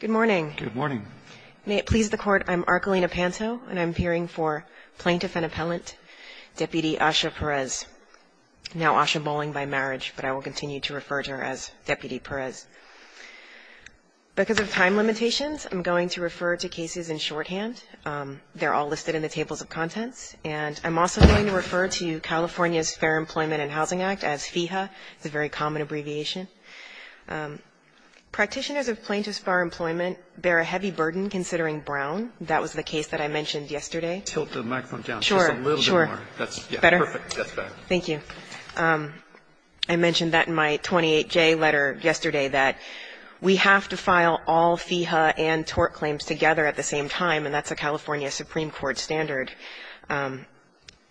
Good morning. May it please the Court, I'm Archelina Panto, and I'm appearing for Plaintiff and Appellant, Deputy Asha Perez, now Asha Bowling by marriage, but I will continue to refer to her as Deputy Perez. Because of time limitations, I'm going to refer to cases in shorthand. They're all listed in the tables of contents, and I'm also going to refer to California's Fair Employment and Housing Act as FEHA. It's a very common abbreviation. Practitioners of plaintiff's far employment bear a heavy burden considering Brown. That was the case that I mentioned yesterday. I mentioned that in my 28J letter yesterday, that we have to file all FEHA and tort claims together at the same time, and that's a California Supreme Court standard.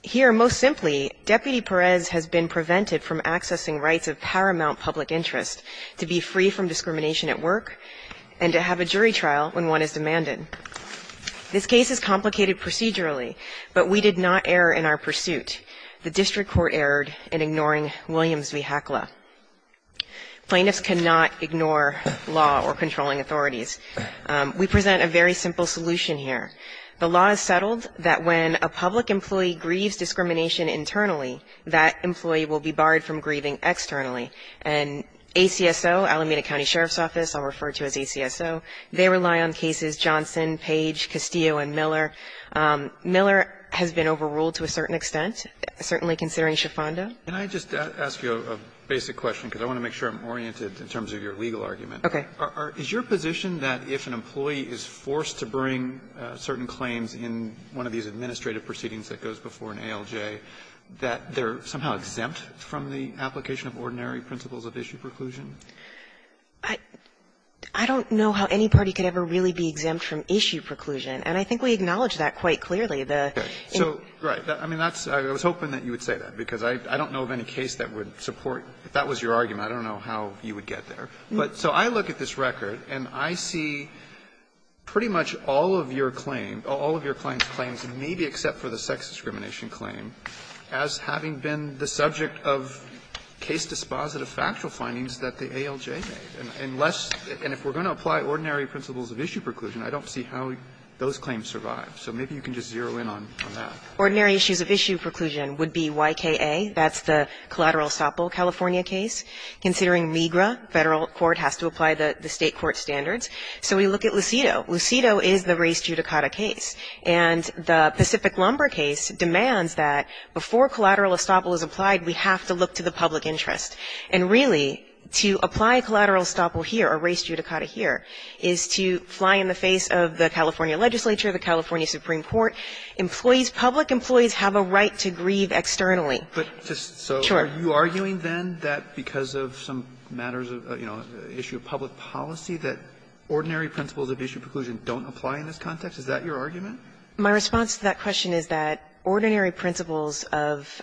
Here, most simply, Deputy Perez has been prevented from accessing rights of paramount public interest, to be free from discrimination at work, and to have a jury trial when one is demanded. This case is complicated procedurally, but we did not err in our pursuit. The district court erred in ignoring Williams v. Hakla. Plaintiffs cannot ignore law or controlling authorities. We present a very simple solution here. The law is settled that when a public employee grieves discrimination internally, that employee will be barred from grieving externally. And ACSO, Alameda County Sheriff's Office, I'll refer to as ACSO, they rely on cases Johnson, Page, Castillo, and Miller. Miller has been overruled to a certain extent, certainly considering Schifando. Alitoso, can I just ask you a basic question, because I want to make sure I'm oriented in terms of your legal argument. Okay. Is your position that if an employee is forced to bring certain claims in one of these cases, they are exempt from the application of ordinary principles of issue preclusion? I don't know how any party could ever really be exempt from issue preclusion. And I think we acknowledge that quite clearly. So, right. I mean, that's why I was hoping that you would say that, because I don't know of any case that would support. If that was your argument, I don't know how you would get there. But so I look at this record, and I see pretty much all of your claim, all of your clients' claims, maybe except for the sex discrimination claim, as having been the subject of case-dispositive factual findings that the ALJ made. And unless we're going to apply ordinary principles of issue preclusion, I don't see how those claims survive. So maybe you can just zero in on that. Ordinary issues of issue preclusion would be YKA. That's the collateral estoppel California case. Considering MiGRA, Federal court has to apply the State court standards. So we look at Lucido. Lucido is the race judicata case. And the Pacific Lumber case demands that before collateral estoppel is applied, we have to look to the public interest. And really, to apply collateral estoppel here, or race judicata here, is to fly in the face of the California legislature, the California Supreme Court. Employees, public employees have a right to grieve externally. But just so are you arguing then that because of some matters of, you know, issue of public policy, that ordinary principles of issue preclusion don't apply in this context? Is that your argument? My response to that question is that ordinary principles of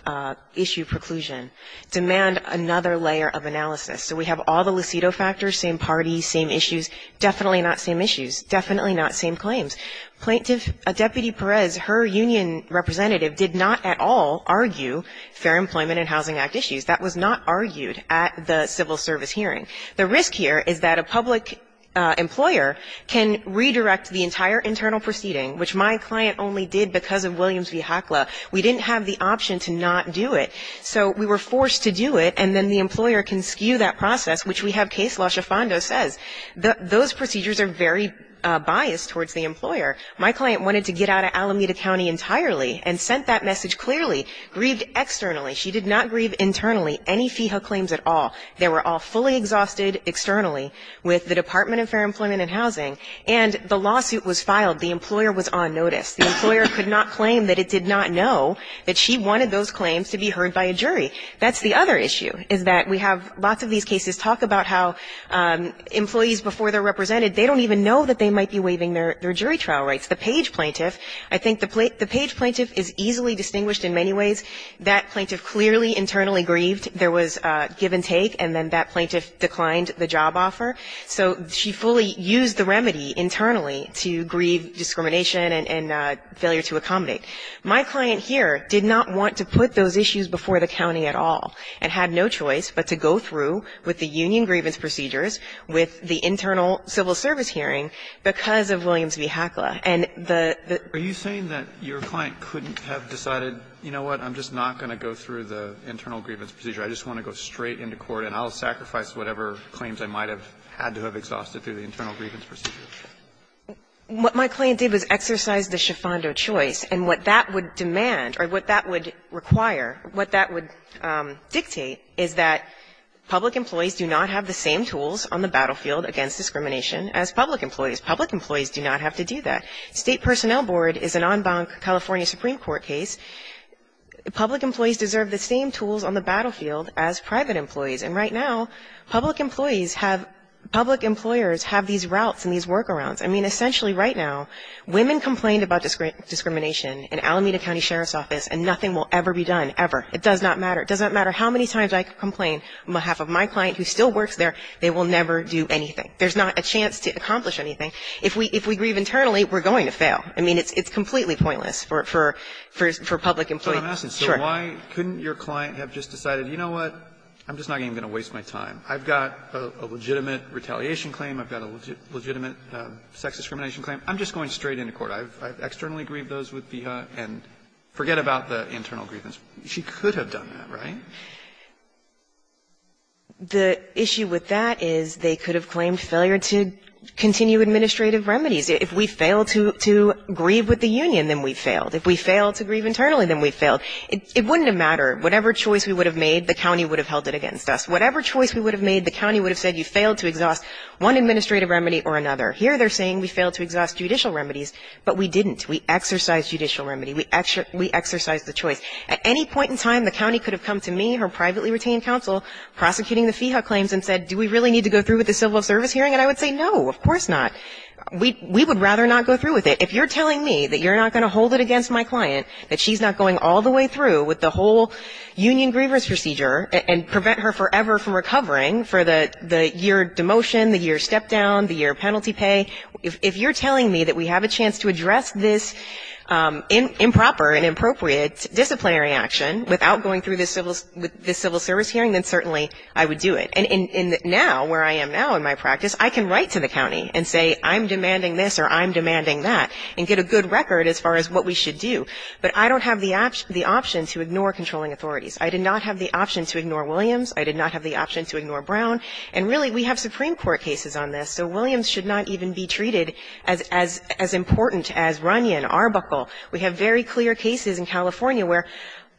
issue preclusion demand another layer of analysis. So we have all the Lucido factors, same parties, same issues, definitely not same issues, definitely not same claims. Plaintiff Deputy Perez, her union representative, did not at all argue Fair Employment and Housing Act issues. That was not argued at the civil service hearing. The risk here is that a public employer can redirect the entire internal proceeding, which my client only did because of Williams v. Hakla. We didn't have the option to not do it. So we were forced to do it, and then the employer can skew that process, which we have case law. Shifando says those procedures are very biased towards the employer. My client wanted to get out of Alameda County entirely and sent that message clearly, grieved externally. She did not grieve internally any FIHA claims at all. They were all fully exhausted externally with the Department of Fair Employment and Housing, and the lawsuit was filed. The employer was on notice. The employer could not claim that it did not know that she wanted those claims to be heard by a jury. That's the other issue, is that we have lots of these cases talk about how employees before they're represented, they don't even know that they might be waiving their jury trial rights. The Page plaintiff, I think the Page plaintiff is easily distinguished in many ways. That plaintiff clearly internally grieved. There was give and take, and then that plaintiff declined the job offer. So she fully used the remedy internally to grieve discrimination and failure to accommodate. My client here did not want to put those issues before the county at all and had no choice but to go through with the union grievance procedures with the internal civil service hearing because of Williams v. Hakla. And the the the Are you saying that your client couldn't have decided, you know what, I'm just not going to go through the internal grievance procedure. I just want to go straight into court and I'll sacrifice whatever claims I might have had to have exhausted through the internal grievance procedure. What my client did was exercise the Schifando choice. And what that would demand or what that would require, what that would dictate is that public employees do not have the same tools on the battlefield against discrimination as public employees. Public employees do not have to do that. State Personnel Board is an on-bonk California Supreme Court case. Public employees deserve the same tools on the battlefield as private employees. And right now, public employees have public employers have these routes and these workarounds. I mean, essentially right now, women complained about discrimination in Alameda County Sheriff's Office and nothing will ever be done, ever. It does not matter. It doesn't matter how many times I complain on behalf of my client who still works there. They will never do anything. There's not a chance to accomplish anything. If we if we grieve internally, we're going to fail. I mean, it's completely pointless for public employees. So why couldn't your client have just decided, you know what, I'm just not even going to waste my time. I've got a legitimate retaliation claim. I've got a legitimate sex discrimination claim. I'm just going straight into court. I've externally grieved those with FIHA and forget about the internal grievance. She could have done that, right? The issue with that is they could have claimed failure to continue administrative remedies. If we fail to grieve with the union, then we've failed. If we fail to grieve internally, then we've failed. It wouldn't have mattered. Whatever choice we would have made, the county would have held it against us. Whatever choice we would have made, the county would have said you failed to exhaust one administrative remedy or another. Here they're saying we failed to exhaust judicial remedies, but we didn't. We exercised judicial remedy. We exercised the choice. At any point in time, the county could have come to me, her privately retained counsel, prosecuting the FIHA claims and said, do we really need to go through with the civil service hearing? And I would say, no, of course not. We would rather not go through with it. If you're telling me that you're not going to hold it against my client, that she's not going all the way through with the whole union grievance procedure and prevent her forever from recovering for the year demotion, the year step down, the year penalty pay, if you're telling me that we have a chance to address this improper and inappropriate disciplinary action without going through this civil service hearing, then certainly I would do it. And now, where I am now in my practice, I can write to the county and say I'm demanding this or I'm demanding that and get a good record as far as what we should do. But I don't have the option to ignore controlling authorities. I did not have the option to ignore Williams. I did not have the option to ignore Brown. And really, we have Supreme Court cases on this, so Williams should not even be treated as important as Runyon, Arbuckle. We have very clear cases in California where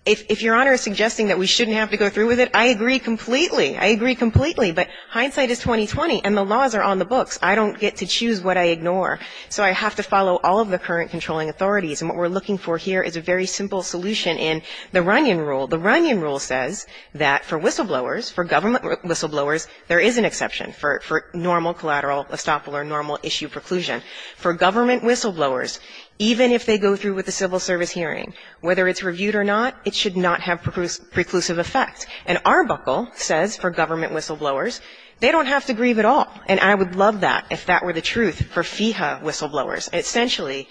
if Your Honor is suggesting that we shouldn't have to go through with it, I agree completely. I agree completely. But hindsight is 20-20, and the laws are on the books. I don't get to choose what I ignore. So I have to follow all of the current controlling authorities. And what we're looking for here is a very simple solution in the Runyon rule. The Runyon rule says that for whistleblowers, for government whistleblowers, there is an exception for normal collateral estoppel or normal issue preclusion. For government whistleblowers, even if they go through with the civil service hearing, whether it's reviewed or not, it should not have preclusive effect. And Arbuckle says for government whistleblowers, they don't have to grieve at all. And I would love that if that were the truth for FEHA whistleblowers. Essentially,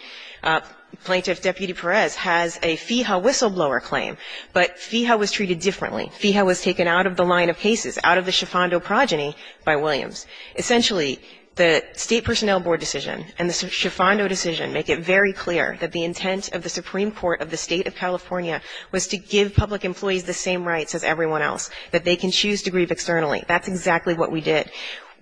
Plaintiff Deputy Perez has a FEHA whistleblower claim, but FEHA was treated differently. FEHA was taken out of the line of cases, out of the Schifando progeny by Williams. Essentially, the State Personnel Board decision and the Schifando decision make it very clear that the intent of the Supreme Court of the State of California was to give public employees the same rights as everyone else, that they can choose to grieve externally. That's exactly what we did.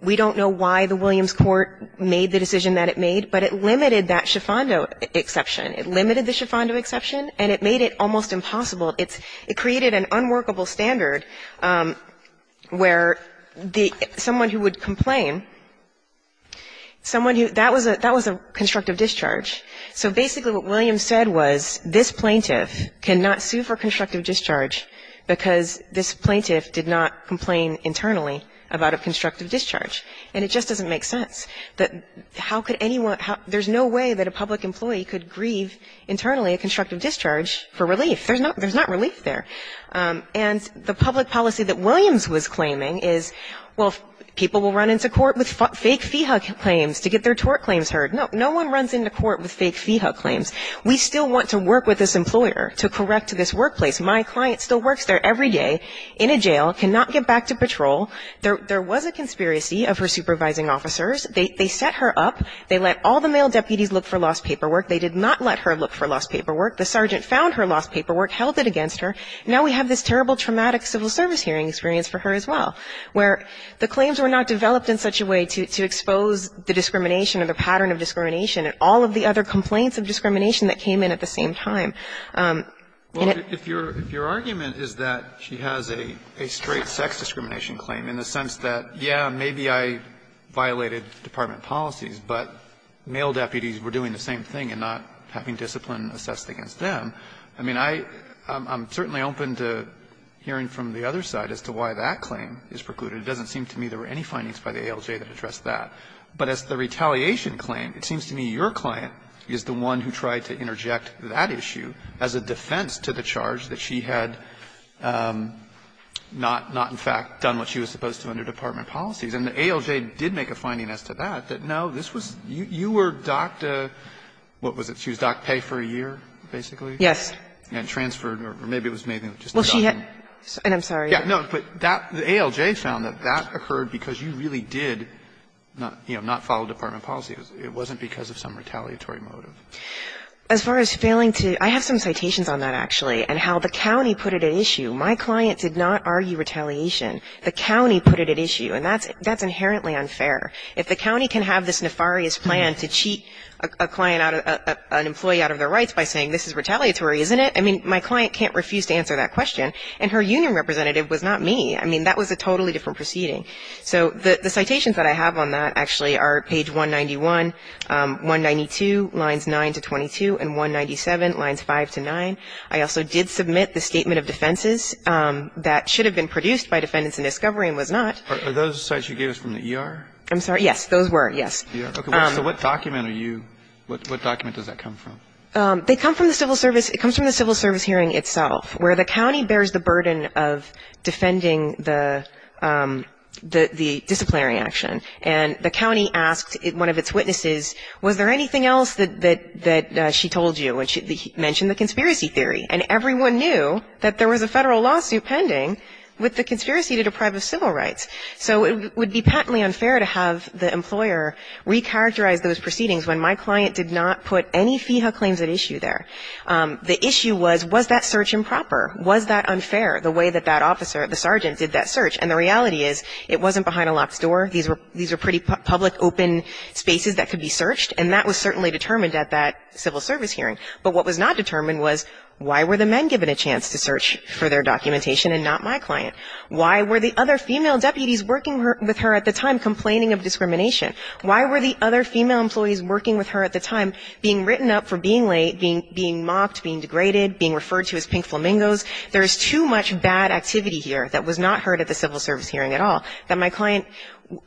We don't know why the Williams court made the decision that it made, but it limited that Schifando exception. It limited the Schifando exception, and it made it almost impossible. It created an unworkable standard where someone who would complain, someone who that was a constructive discharge. So basically what Williams said was this plaintiff cannot sue for constructive discharge because this plaintiff did not complain internally about a constructive discharge. And it just doesn't make sense that how could anyone – there's no way that a public employee could grieve internally a constructive discharge for relief. There's not relief there. And the public policy that Williams was claiming is, well, people will run into court with fake FEHA claims to get their tort claims heard. No one runs into court with fake FEHA claims. We still want to work with this employer to correct this workplace. My client still works there every day in a jail, cannot get back to patrol. There was a conspiracy of her supervising officers. They set her up. They let all the male deputies look for lost paperwork. They did not let her look for lost paperwork. The sergeant found her lost paperwork, held it against her. Now we have this terrible traumatic civil service hearing experience for her as well, where the claims were not developed in such a way to expose the discrimination or the pattern of discrimination and all of the other complaints of discrimination that came in at the same time. And it – Well, if your – if your argument is that she has a straight sex discrimination claim in the sense that, yeah, maybe I violated department policies, but male deputies were doing the same thing and not having discipline assessed against them, I mean, I – I'm certainly open to hearing from the other side as to why that claim is precluded. It doesn't seem to me there were any findings by the ALJ that addressed that. But as the retaliation claim, it seems to me your client is the one who tried to interject that issue as a defense to the charge that she had not – not, in fact, done what she was supposed to under department policies. And the ALJ did make a finding as to that, that, no, this was – you were docked a – what was it? She was docked pay for a year, basically? And transferred, or maybe it was just a docking. Well, she had – and I'm sorry. Yeah, no, but that – the ALJ found that that occurred because you really did, you know, not follow department policies. It wasn't because of some retaliatory motive. As far as failing to – I have some citations on that, actually, and how the county put it at issue. My client did not argue retaliation. The county put it at issue. And that's – that's inherently unfair. If the county can have this nefarious plan to cheat a client out of – an employee out of their rights by saying this is retaliatory, isn't it? I mean, my client can't refuse to answer that question. And her union representative was not me. I mean, that was a totally different proceeding. So the citations that I have on that, actually, are page 191, 192, lines 9 to 22, and 197, lines 5 to 9. I also did submit the statement of defenses that should have been produced by defendants in discovery and was not. Are those the cites you gave us from the ER? I'm sorry? Yes, those were, yes. Okay, so what document are you – what document does that come from? They come from the civil service – it comes from the civil service hearing itself, where the county bears the burden of defending the disciplinary action. And the county asked one of its witnesses, was there anything else that she told you? And she mentioned the conspiracy theory. And everyone knew that there was a Federal lawsuit pending with the conspiracy to deprive of civil rights. So it would be patently unfair to have the employer recharacterize those proceedings when my client did not put any FEHA claims at issue there. The issue was, was that search improper? Was that unfair, the way that that officer, the sergeant, did that search? And the reality is, it wasn't behind a locked door. These were pretty public, open spaces that could be searched. And that was certainly determined at that civil service hearing. But what was not determined was, why were the men given a chance to search for their documentation and not my client? Why were the other female deputies working with her at the time complaining of discrimination? Why were the other female employees working with her at the time being written up for being late, being mocked, being degraded, being referred to as pink flamingos? There is too much bad activity here that was not heard at the civil service hearing at all that my client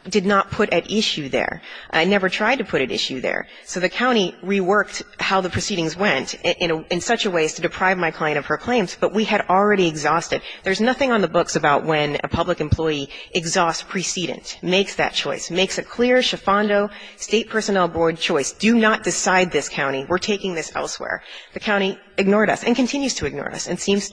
did not put at issue there. I never tried to put at issue there. So the county reworked how the proceedings went in such a way as to deprive my client of her claims. But we had already exhausted. There's nothing on the books about when a public employee exhausts precedence, makes that choice, makes a clear Schifando State Personnel Board choice. Do not decide this, county. We're taking this elsewhere. The county ignored us and continues to ignore us and seems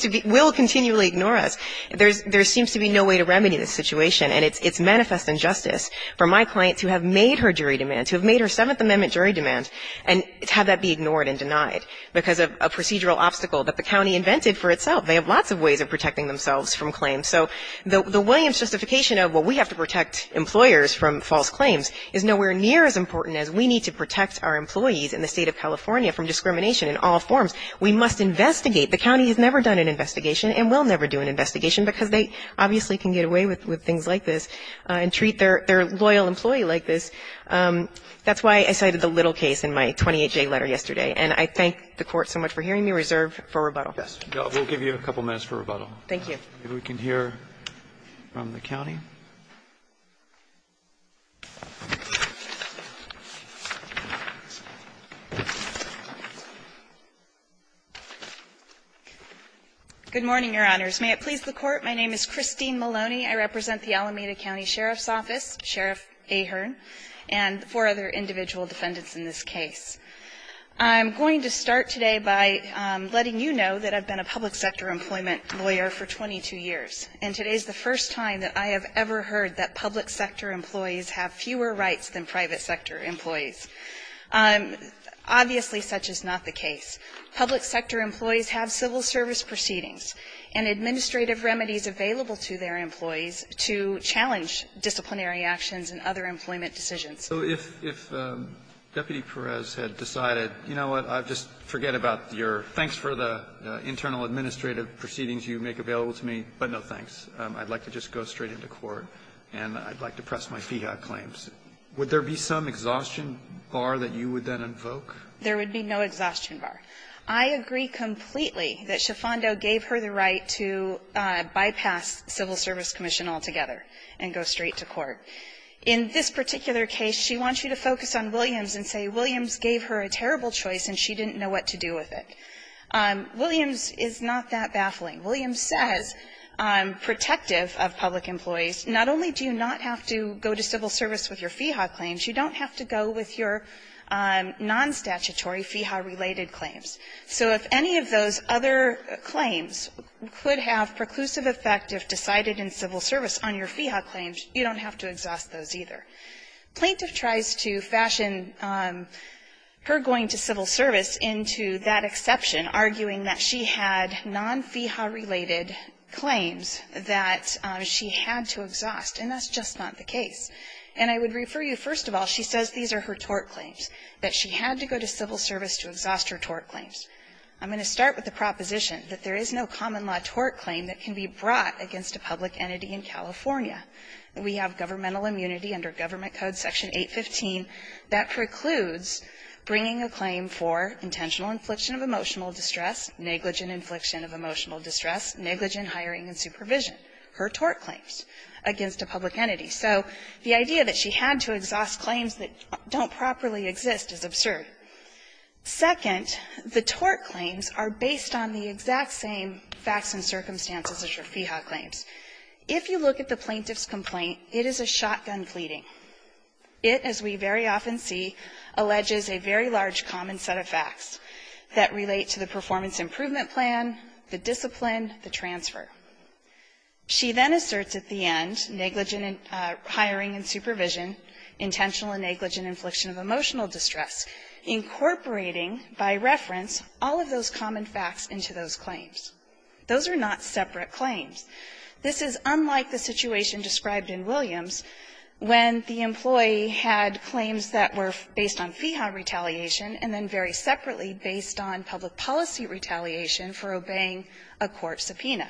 to be, will continually ignore us. There seems to be no way to remedy this situation. And it's manifest injustice for my client to have made her jury demand, to have made her Seventh Amendment jury demand and have that be ignored and denied because of a procedural obstacle that the county invented for itself. They have lots of ways of protecting themselves from claims. So the Williams justification of, well, we have to protect employers from false claims is nowhere near as important as we need to protect our employees in the State of California from discrimination in all forms. We must investigate. The county has never done an investigation and will never do an investigation because they obviously can get away with things like this and treat their loyal employee like this. That's why I cited the Little case in my 28-J letter yesterday. And I thank the Court so much for hearing me. Reserve for rebuttal. Roberts. Roberts. We'll give you a couple minutes for rebuttal. Thank you. If we can hear from the county. Good morning, Your Honors. May it please the Court, my name is Christine Maloney. I represent the Alameda County Sheriff's Office, Sheriff Ahearn, and four other individual defendants in this case. I'm going to start today by letting you know that I've been a public sector employment lawyer for 22 years. And today is the first time that I have ever heard that public sector employees have fewer rights than private sector employees. Obviously, such is not the case. Public sector employees have civil service proceedings and administrative remedies available to their employees to challenge disciplinary actions and other employment decisions. So if Deputy Perez had decided, you know what, I'll just forget about your thanks for the internal administrative proceedings you make available to me, but no thanks. I'd like to just go straight into court, and I'd like to press my FIHA claims. Would there be some exhaustion bar that you would then invoke? There would be no exhaustion bar. I agree completely that Schifando gave her the right to bypass civil service commission altogether and go straight to court. In this particular case, she wants you to focus on Williams and say Williams gave her a terrible choice and she didn't know what to do with it. Williams is not that baffling. Williams says, protective of public employees, not only do you not have to go to civil service with your FIHA claims, you don't have to go with your nonstatutory FIHA-related claims. So if any of those other claims could have preclusive effect if decided in civil service on your FIHA claims, you don't have to exhaust those either. Plaintiff tries to fashion her going to civil service into that exception, arguing that she had non-FIHA-related claims that she had to exhaust, and that's just not the case. And I would refer you, first of all, she says these are her tort claims, that she had to go to civil service to exhaust her tort claims. I'm going to start with the proposition that there is no common law tort claim that can be brought against a public entity in California. We have governmental immunity under Government Code Section 815 that precludes bringing a claim for intentional infliction of emotional distress, negligent infliction of emotional distress, negligent hiring and supervision, her tort claims, against a public entity. So the idea that she had to exhaust claims that don't properly exist is absurd. Second, the tort claims are based on the exact same facts and circumstances as your FIHA claims. If you look at the plaintiff's complaint, it is a shotgun pleading. It, as we very often see, alleges a very large common set of facts that relate to the performance improvement plan, the discipline, the transfer. She then asserts at the end, negligent hiring and supervision, intentional and negligent infliction of emotional distress, incorporating, by reference, all of those common facts into those claims. Those are not separate claims. This is unlike the situation described in Williams when the employee had claims that were based on FIHA retaliation and then very separately based on public policy retaliation for obeying a court subpoena.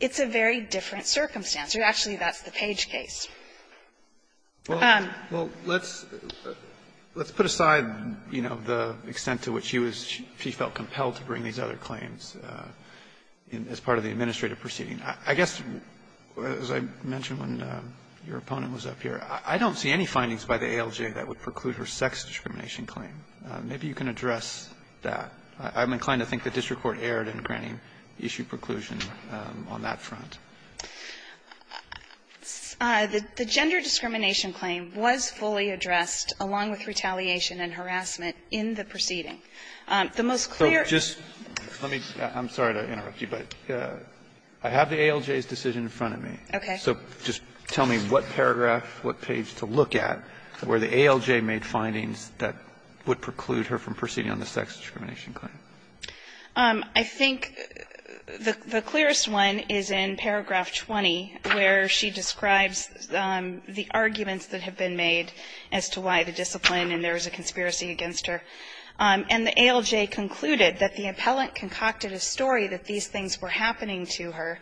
It's a very different circumstance. Actually, that's the Page case. Alitonovich Well, let's put aside, you know, the extent to which she was, she felt I guess, as I mentioned when your opponent was up here, I don't see any findings by the ALJ that would preclude her sex discrimination claim. Maybe you can address that. I'm inclined to think the district court erred in granting issue preclusion on that front. Anderson The gender discrimination claim was fully addressed, along with retaliation and harassment, in the proceeding. The most clear ---- Alitonovich I have the ALJ's decision in front of me. So just tell me what paragraph, what page to look at where the ALJ made findings that would preclude her from proceeding on the sex discrimination claim. Anderson I think the clearest one is in paragraph 20, where she describes the arguments that have been made as to why the discipline and there is a conspiracy against her. And the ALJ concluded that the appellant concocted a story that these things were going to occur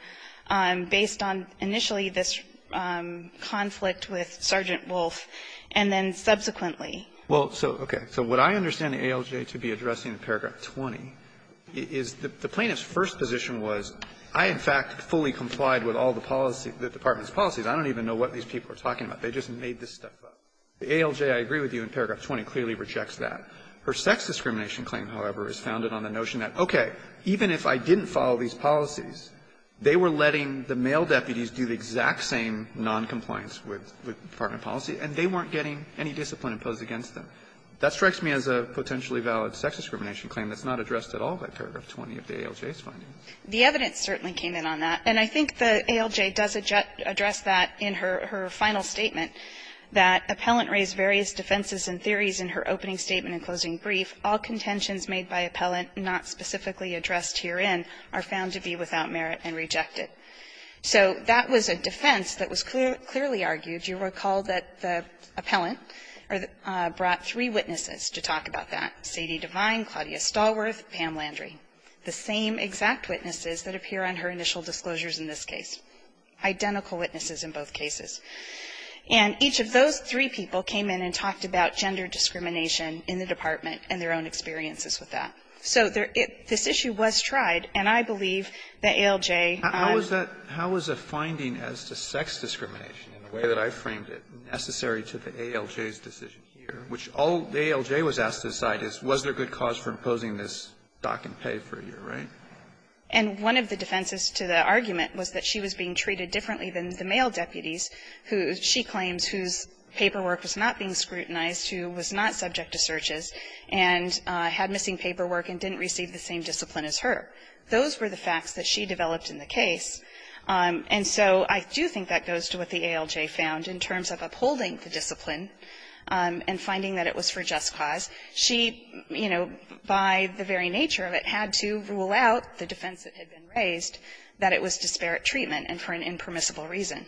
based on initially this conflict with Sergeant Wolfe, and then subsequently. Alitonovich Well, so, okay. So what I understand the ALJ to be addressing in paragraph 20 is the plaintiff's first position was, I, in fact, fully complied with all the policy, the department's policies. I don't even know what these people are talking about. They just made this stuff up. The ALJ, I agree with you, in paragraph 20 clearly rejects that. Her sex discrimination claim, however, is founded on the notion that, okay, even if I didn't follow these policies, they were letting the male deputies do the exact same noncompliance with department policy, and they weren't getting any discipline imposed against them. That strikes me as a potentially valid sex discrimination claim that's not addressed at all by paragraph 20 of the ALJ's findings. Anderson The evidence certainly came in on that. And I think the ALJ does address that in her final statement, that appellant raised various defenses and theories in her opening statement and closing brief. All contentions made by appellant not specifically addressed herein are found to be without merit and rejected. So that was a defense that was clearly argued. You recall that the appellant brought three witnesses to talk about that, Sadie Devine, Claudia Stallworth, Pam Landry, the same exact witnesses that appear on her initial disclosures in this case, identical witnesses in both cases. And each of those three people came in and talked about gender discrimination in the department and their own experiences with that. So this issue was tried, and I believe the ALJ on the other side of the aisle is going to have to deal with it. Alito How is that – how is a finding as to sex discrimination, in the way that I framed it, necessary to the ALJ's decision here, which all the ALJ was asked to decide is was there good cause for imposing this stock and pay for a year, right? Anderson And one of the defenses to the argument was that she was being treated differently than the male deputies who she claims whose paperwork was not being scrutinized, who was not subject to searches, and had missing paperwork and didn't receive the same discipline as her. Those were the facts that she developed in the case. And so I do think that goes to what the ALJ found in terms of upholding the discipline and finding that it was for just cause. She, you know, by the very nature of it, had to rule out the defense that had been raised, that it was disparate treatment and for an impermissible reason.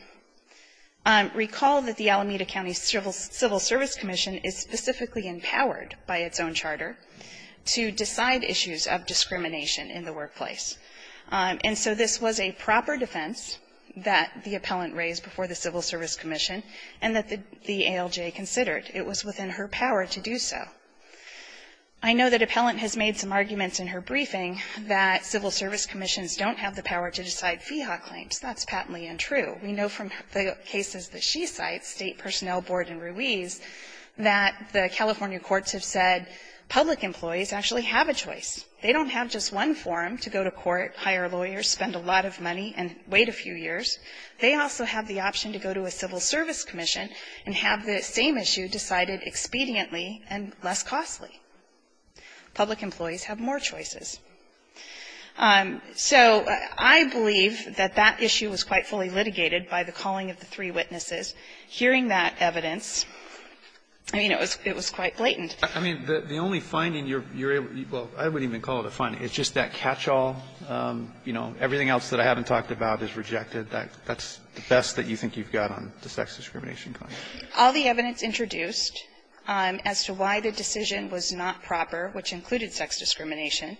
Recall that the Alameda County Civil Service Commission is specifically empowered by its own charter to decide issues of discrimination in the workplace. And so this was a proper defense that the appellant raised before the Civil Service Commission and that the ALJ considered. It was within her power to do so. I know that Appellant has made some arguments in her briefing that Civil Service Commissions don't have the power to decide FIHA claims. That's patently untrue. We know from the cases that she cites, State Personnel Board and Ruiz, that the California courts have said public employees actually have a choice. They don't have just one forum to go to court, hire a lawyer, spend a lot of money, and wait a few years. They also have the option to go to a Civil Service Commission and have the same issue decided expediently and less costly. Public employees have more choices. So I believe that that issue was quite fully litigated by the calling of the three witnesses. Hearing that evidence, I mean, it was quite blatant. I mean, the only finding you're able to do, well, I wouldn't even call it a finding. It's just that catchall, you know, everything else that I haven't talked about is rejected. That's the best that you think you've got on the sex discrimination claim. All the evidence introduced as to why the decision was not proper, which included sex discrimination,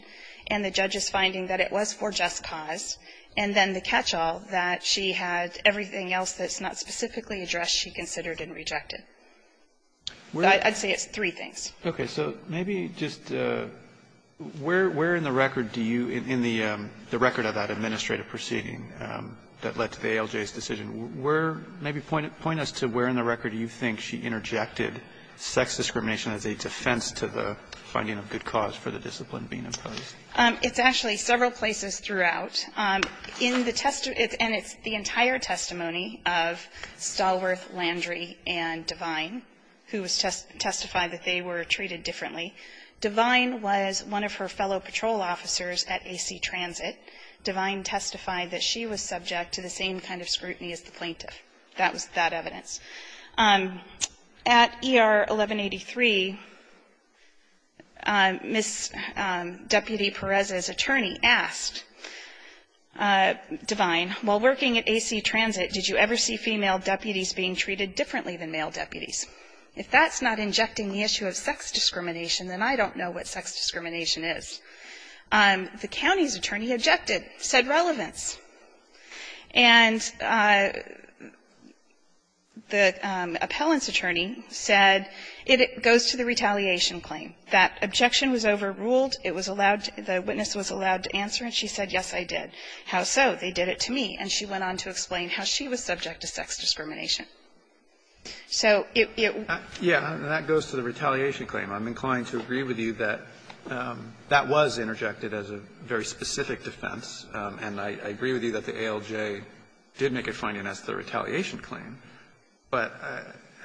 and the judge's finding that it was for just cause, and then the catchall that she had everything else that's not specifically addressed, she considered and rejected. I'd say it's three things. Okay. So maybe just where in the record do you, in the record of that administrative proceeding that led to the ALJ's decision, where, maybe point us to where in the record do you think she interjected sex discrimination as a defense to the finding of good cause for the discipline being imposed? It's actually several places throughout. In the testimony, and it's the entire testimony of Stallworth, Landry, and Devine, who testified that they were treated differently. Devine was one of her fellow patrol officers at AC Transit. Devine testified that she was subject to the same kind of scrutiny as the plaintiff. That was that evidence. At ER 1183, Ms. Deputy Perez's attorney asked Devine, while working at AC Transit, did you ever see female deputies being treated differently than male deputies? If that's not injecting the issue of sex discrimination, then I don't know what sex discrimination is. The county's attorney objected, said relevance. And the appellant's attorney said, it goes to the retaliation claim. That objection was overruled. It was allowed to be, the witness was allowed to answer, and she said, yes, I did. How so? They did it to me. And she went on to explain how she was subject to sex discrimination. So it, it was. Yeah, and that goes to the retaliation claim. I'm inclined to agree with you that that was interjected as a very specific defense, and I agree with you that the ALJ did make a finding as to the retaliation claim. But,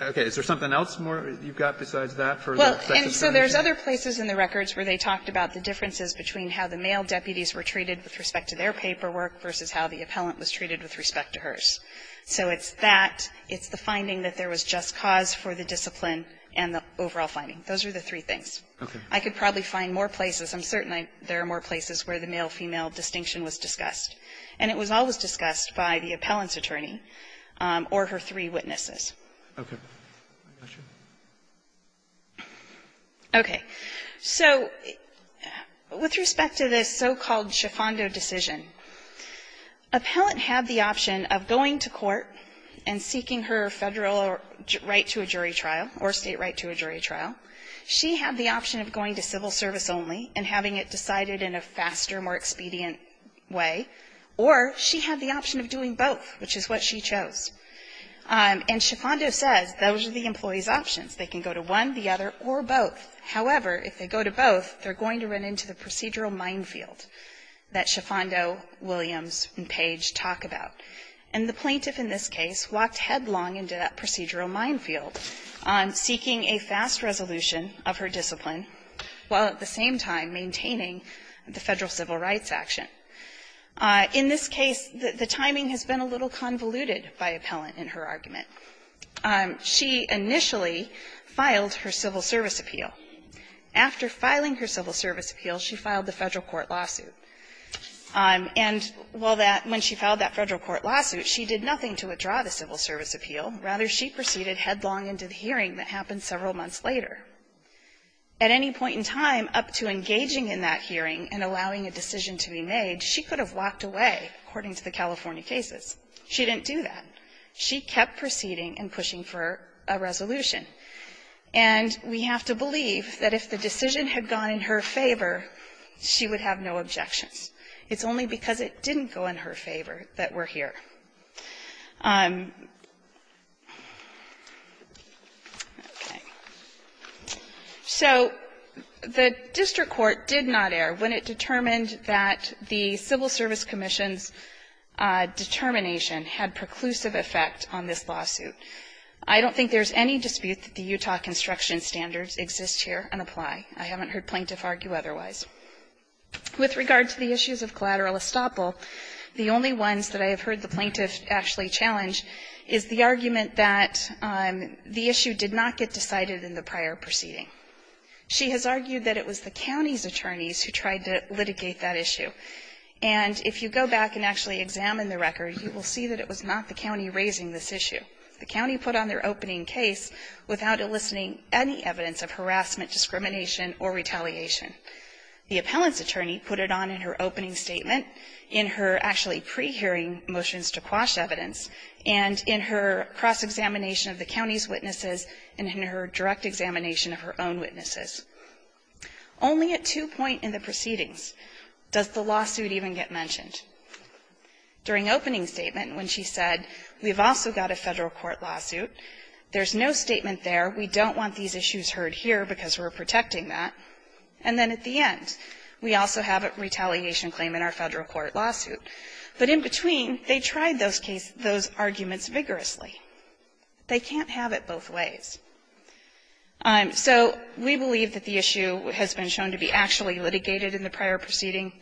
okay, is there something else more you've got besides that for the sex discrimination? Well, and so there's other places in the records where they talked about the differences between how the male deputies were treated with respect to their paperwork versus how the appellant was treated with respect to hers. So it's that, it's the finding that there was just cause for the discipline and the overall finding. Those are the three things. Okay. I could probably find more places. I'm certain I, there are more places where the male-female distinction was discussed. And it was always discussed by the appellant's attorney or her three witnesses. Okay. I got you. Okay. So with respect to this so-called Schifando decision, appellant had the option of going to court and seeking her Federal right to a jury trial or State right to a jury trial. She had the option of going to civil service only and having it decided in a faster, more expedient way. Or she had the option of doing both, which is what she chose. And Schifando says those are the employee's options. They can go to one, the other, or both. However, if they go to both, they're going to run into the procedural minefield that Schifando, Williams, and Page talk about. And the plaintiff in this case walked headlong into that procedural minefield on seeking a fast resolution of her discipline while at the same time maintaining the Federal civil rights action. In this case, the timing has been a little convoluted by appellant in her argument. She initially filed her civil service appeal. After filing her civil service appeal, she filed the Federal court lawsuit. And while that, when she filed that Federal court lawsuit, she did nothing to withdraw the civil service appeal. Rather, she proceeded headlong into the hearing that happened several months later. At any point in time, up to engaging in that hearing and allowing a decision to be made, she could have walked away, according to the California cases. She didn't do that. She kept proceeding and pushing for a resolution. And we have to believe that if the decision had gone in her favor, she would have no objections. It's only because it didn't go in her favor that we're here. Okay. So the district court did not err when it determined that the civil service commission's determination had preclusive effect on this lawsuit. I don't think there's any dispute that the Utah construction standards exist here and apply. I haven't heard plaintiff argue otherwise. With regard to the issues of collateral estoppel, the only ones that I have heard the plaintiff actually challenge is the argument that the issue did not get decided in the prior proceeding. She has argued that it was the county's attorneys who tried to litigate that issue. And if you go back and actually examine the record, you will see that it was not the county raising this issue. The county put on their opening case without eliciting any evidence of harassment, discrimination, or retaliation. The appellant's attorney put it on in her opening statement. In her actually pre-hearing motions to quash evidence, and in her cross-examination of the county's witnesses, and in her direct examination of her own witnesses. Only at two point in the proceedings does the lawsuit even get mentioned. During opening statement, when she said, we've also got a Federal court lawsuit, there's no statement there, we don't want these issues heard here because we're protecting that. And then at the end, we also have a retaliation claim in our Federal court lawsuit. But in between, they tried those case – those arguments vigorously. They can't have it both ways. So we believe that the issue has been shown to be actually litigated in the prior proceeding.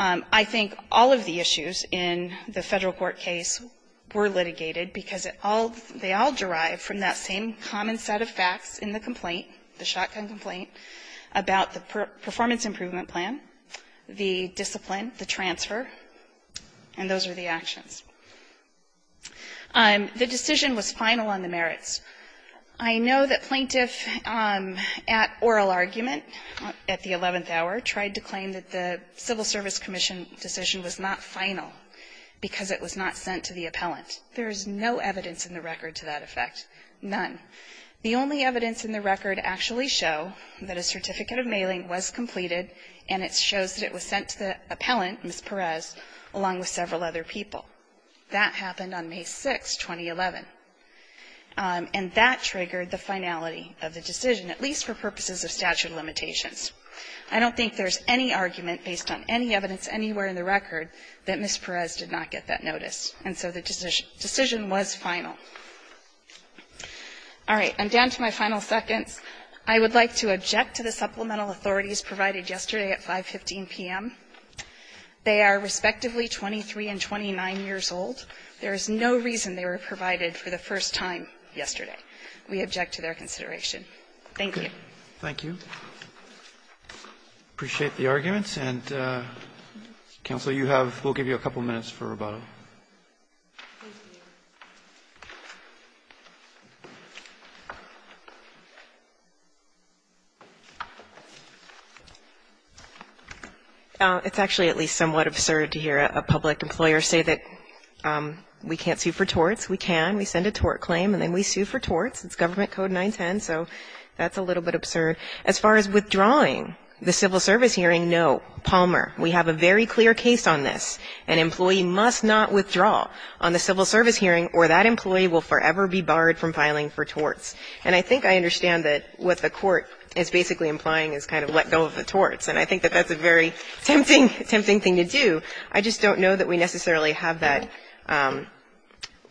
I think all of the issues in the Federal court case were litigated because it all – they all derive from that same common set of facts in the complaint, the shotgun complaint, about the performance improvement plan, the discipline, the transfer, and those are the actions. The decision was final on the merits. I know that plaintiff at oral argument at the 11th hour tried to claim that the Civil Service Commission decision was not final because it was not sent to the appellant. There is no evidence in the record to that effect. None. The only evidence in the record actually show that a certificate of mailing was completed, and it shows that it was sent to the appellant, Ms. Perez, along with several other people. That happened on May 6th, 2011, and that triggered the finality of the decision, at least for purposes of statute of limitations. I don't think there's any argument based on any evidence anywhere in the record that Ms. Perez did not get that notice. And so the decision was final. All right. And down to my final seconds. I would like to object to the supplemental authorities provided yesterday at 5.15 p.m. They are respectively 23 and 29 years old. There is no reason they were provided for the first time yesterday. We object to their consideration. Thank you. Roberts. Thank you. Appreciate the arguments. And, counsel, you have we'll give you a couple minutes for rebuttal. It's actually at least somewhat absurd to hear a public employer say that we can't sue for torts, we can, we send a tort claim, and then we sue for torts. It's Government Code 910, so that's a little bit absurd. As far as withdrawing the civil service hearing, no. Palmer, we have a very clear case on this. An employee must not withdraw on the civil service hearing or that employee will forever be barred from filing for torts. And I think I understand that what the court is basically implying is kind of let go of the torts. And I think that that's a very tempting, tempting thing to do. I just don't know that we necessarily have that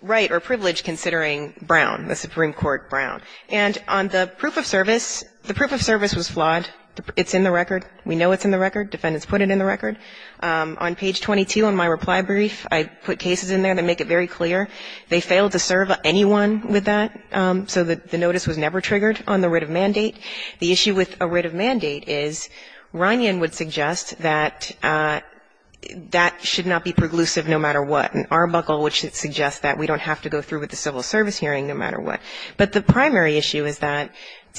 right or privilege considering Brown, the Supreme Court Brown. And on the proof of service, the proof of service was flawed. It's in the record. We know it's in the record. Defendants put it in the record. On page 22 on my reply brief, I put cases in there that make it very clear. They failed to serve anyone with that, so that the notice was never triggered on the writ of mandate. The issue with a writ of mandate is, Ryan would suggest that that should not be preclusive no matter what. And Arbuckle would suggest that we don't have to go through with the civil service hearing no matter what. But the primary issue is that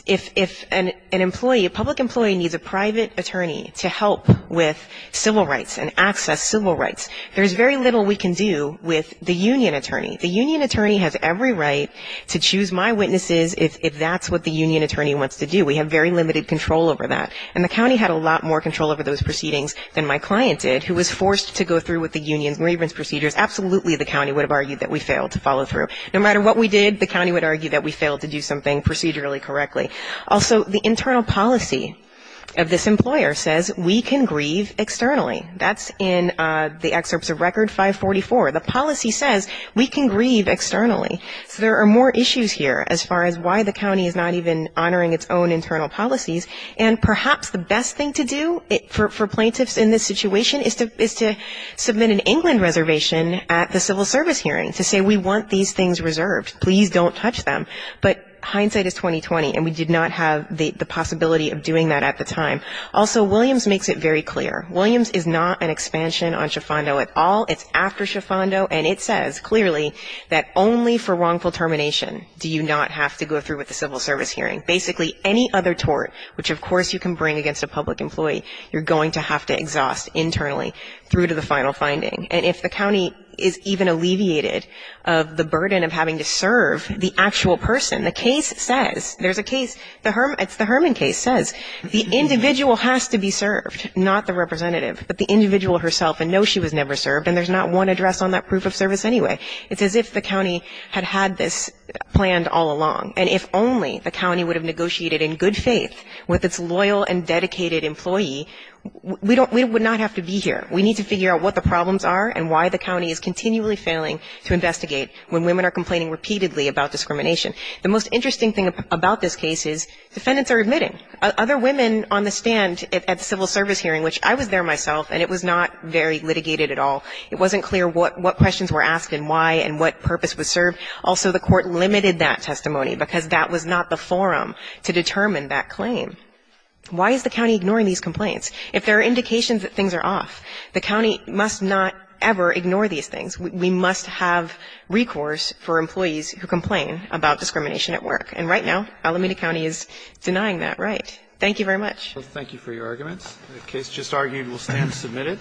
if an employee, a public employee needs a private attorney to help with civil rights and access civil rights, there's very little we can do with the union attorney. The union attorney has every right to choose my witnesses if that's what the union attorney wants to do. We have very limited control over that. And the county had a lot more control over those proceedings than my client did, who was forced to go through with the union's grievance procedures. Absolutely, the county would have argued that we failed to follow through. No matter what we did, the county would argue that we failed to do something procedurally correctly. Also, the internal policy of this employer says we can grieve externally. That's in the excerpts of Record 544. The policy says we can grieve externally. So there are more issues here as far as why the county is not even honoring its own internal policies. And perhaps the best thing to do for plaintiffs in this situation is to submit an England reservation at the civil service hearing to say we want these things reserved. Please don't touch them. But hindsight is 20-20, and we did not have the possibility of doing that at the time. Also, Williams makes it very clear. Williams is not an expansion on Schifando at all. It's after Schifando, and it says clearly that only for wrongful termination do you not have to go through with the civil service hearing. Basically, any other tort, which of course you can bring against a public employee, you're going to have to exhaust internally through to the final finding. And if the county is even alleviated of the burden of having to serve the actual person, the case says, there's a case, it's the Herman case, says the individual has to be served, not the representative, but the individual herself, and no, she was never served. And there's not one address on that proof of service anyway. It's as if the county had had this planned all along. And if only the county would have negotiated in good faith with its loyal and dedicated employee, we would not have to be here. We need to figure out what the problems are and why the county is continually failing to investigate when women are complaining repeatedly about discrimination. The most interesting thing about this case is defendants are admitting. Other women on the stand at the civil service hearing, which I was there myself, and it was not very litigated at all. It wasn't clear what questions were asked and why and what purpose was served. Also, the court limited that testimony because that was not the forum to determine that claim. Why is the county ignoring these complaints? If there are indications that things are off, the county must not ever ignore these things. We must have recourse for employees who complain about discrimination at work. And right now, Alameda County is denying that right. Thank you very much. Thank you for your arguments. The case just argued will stand submitted.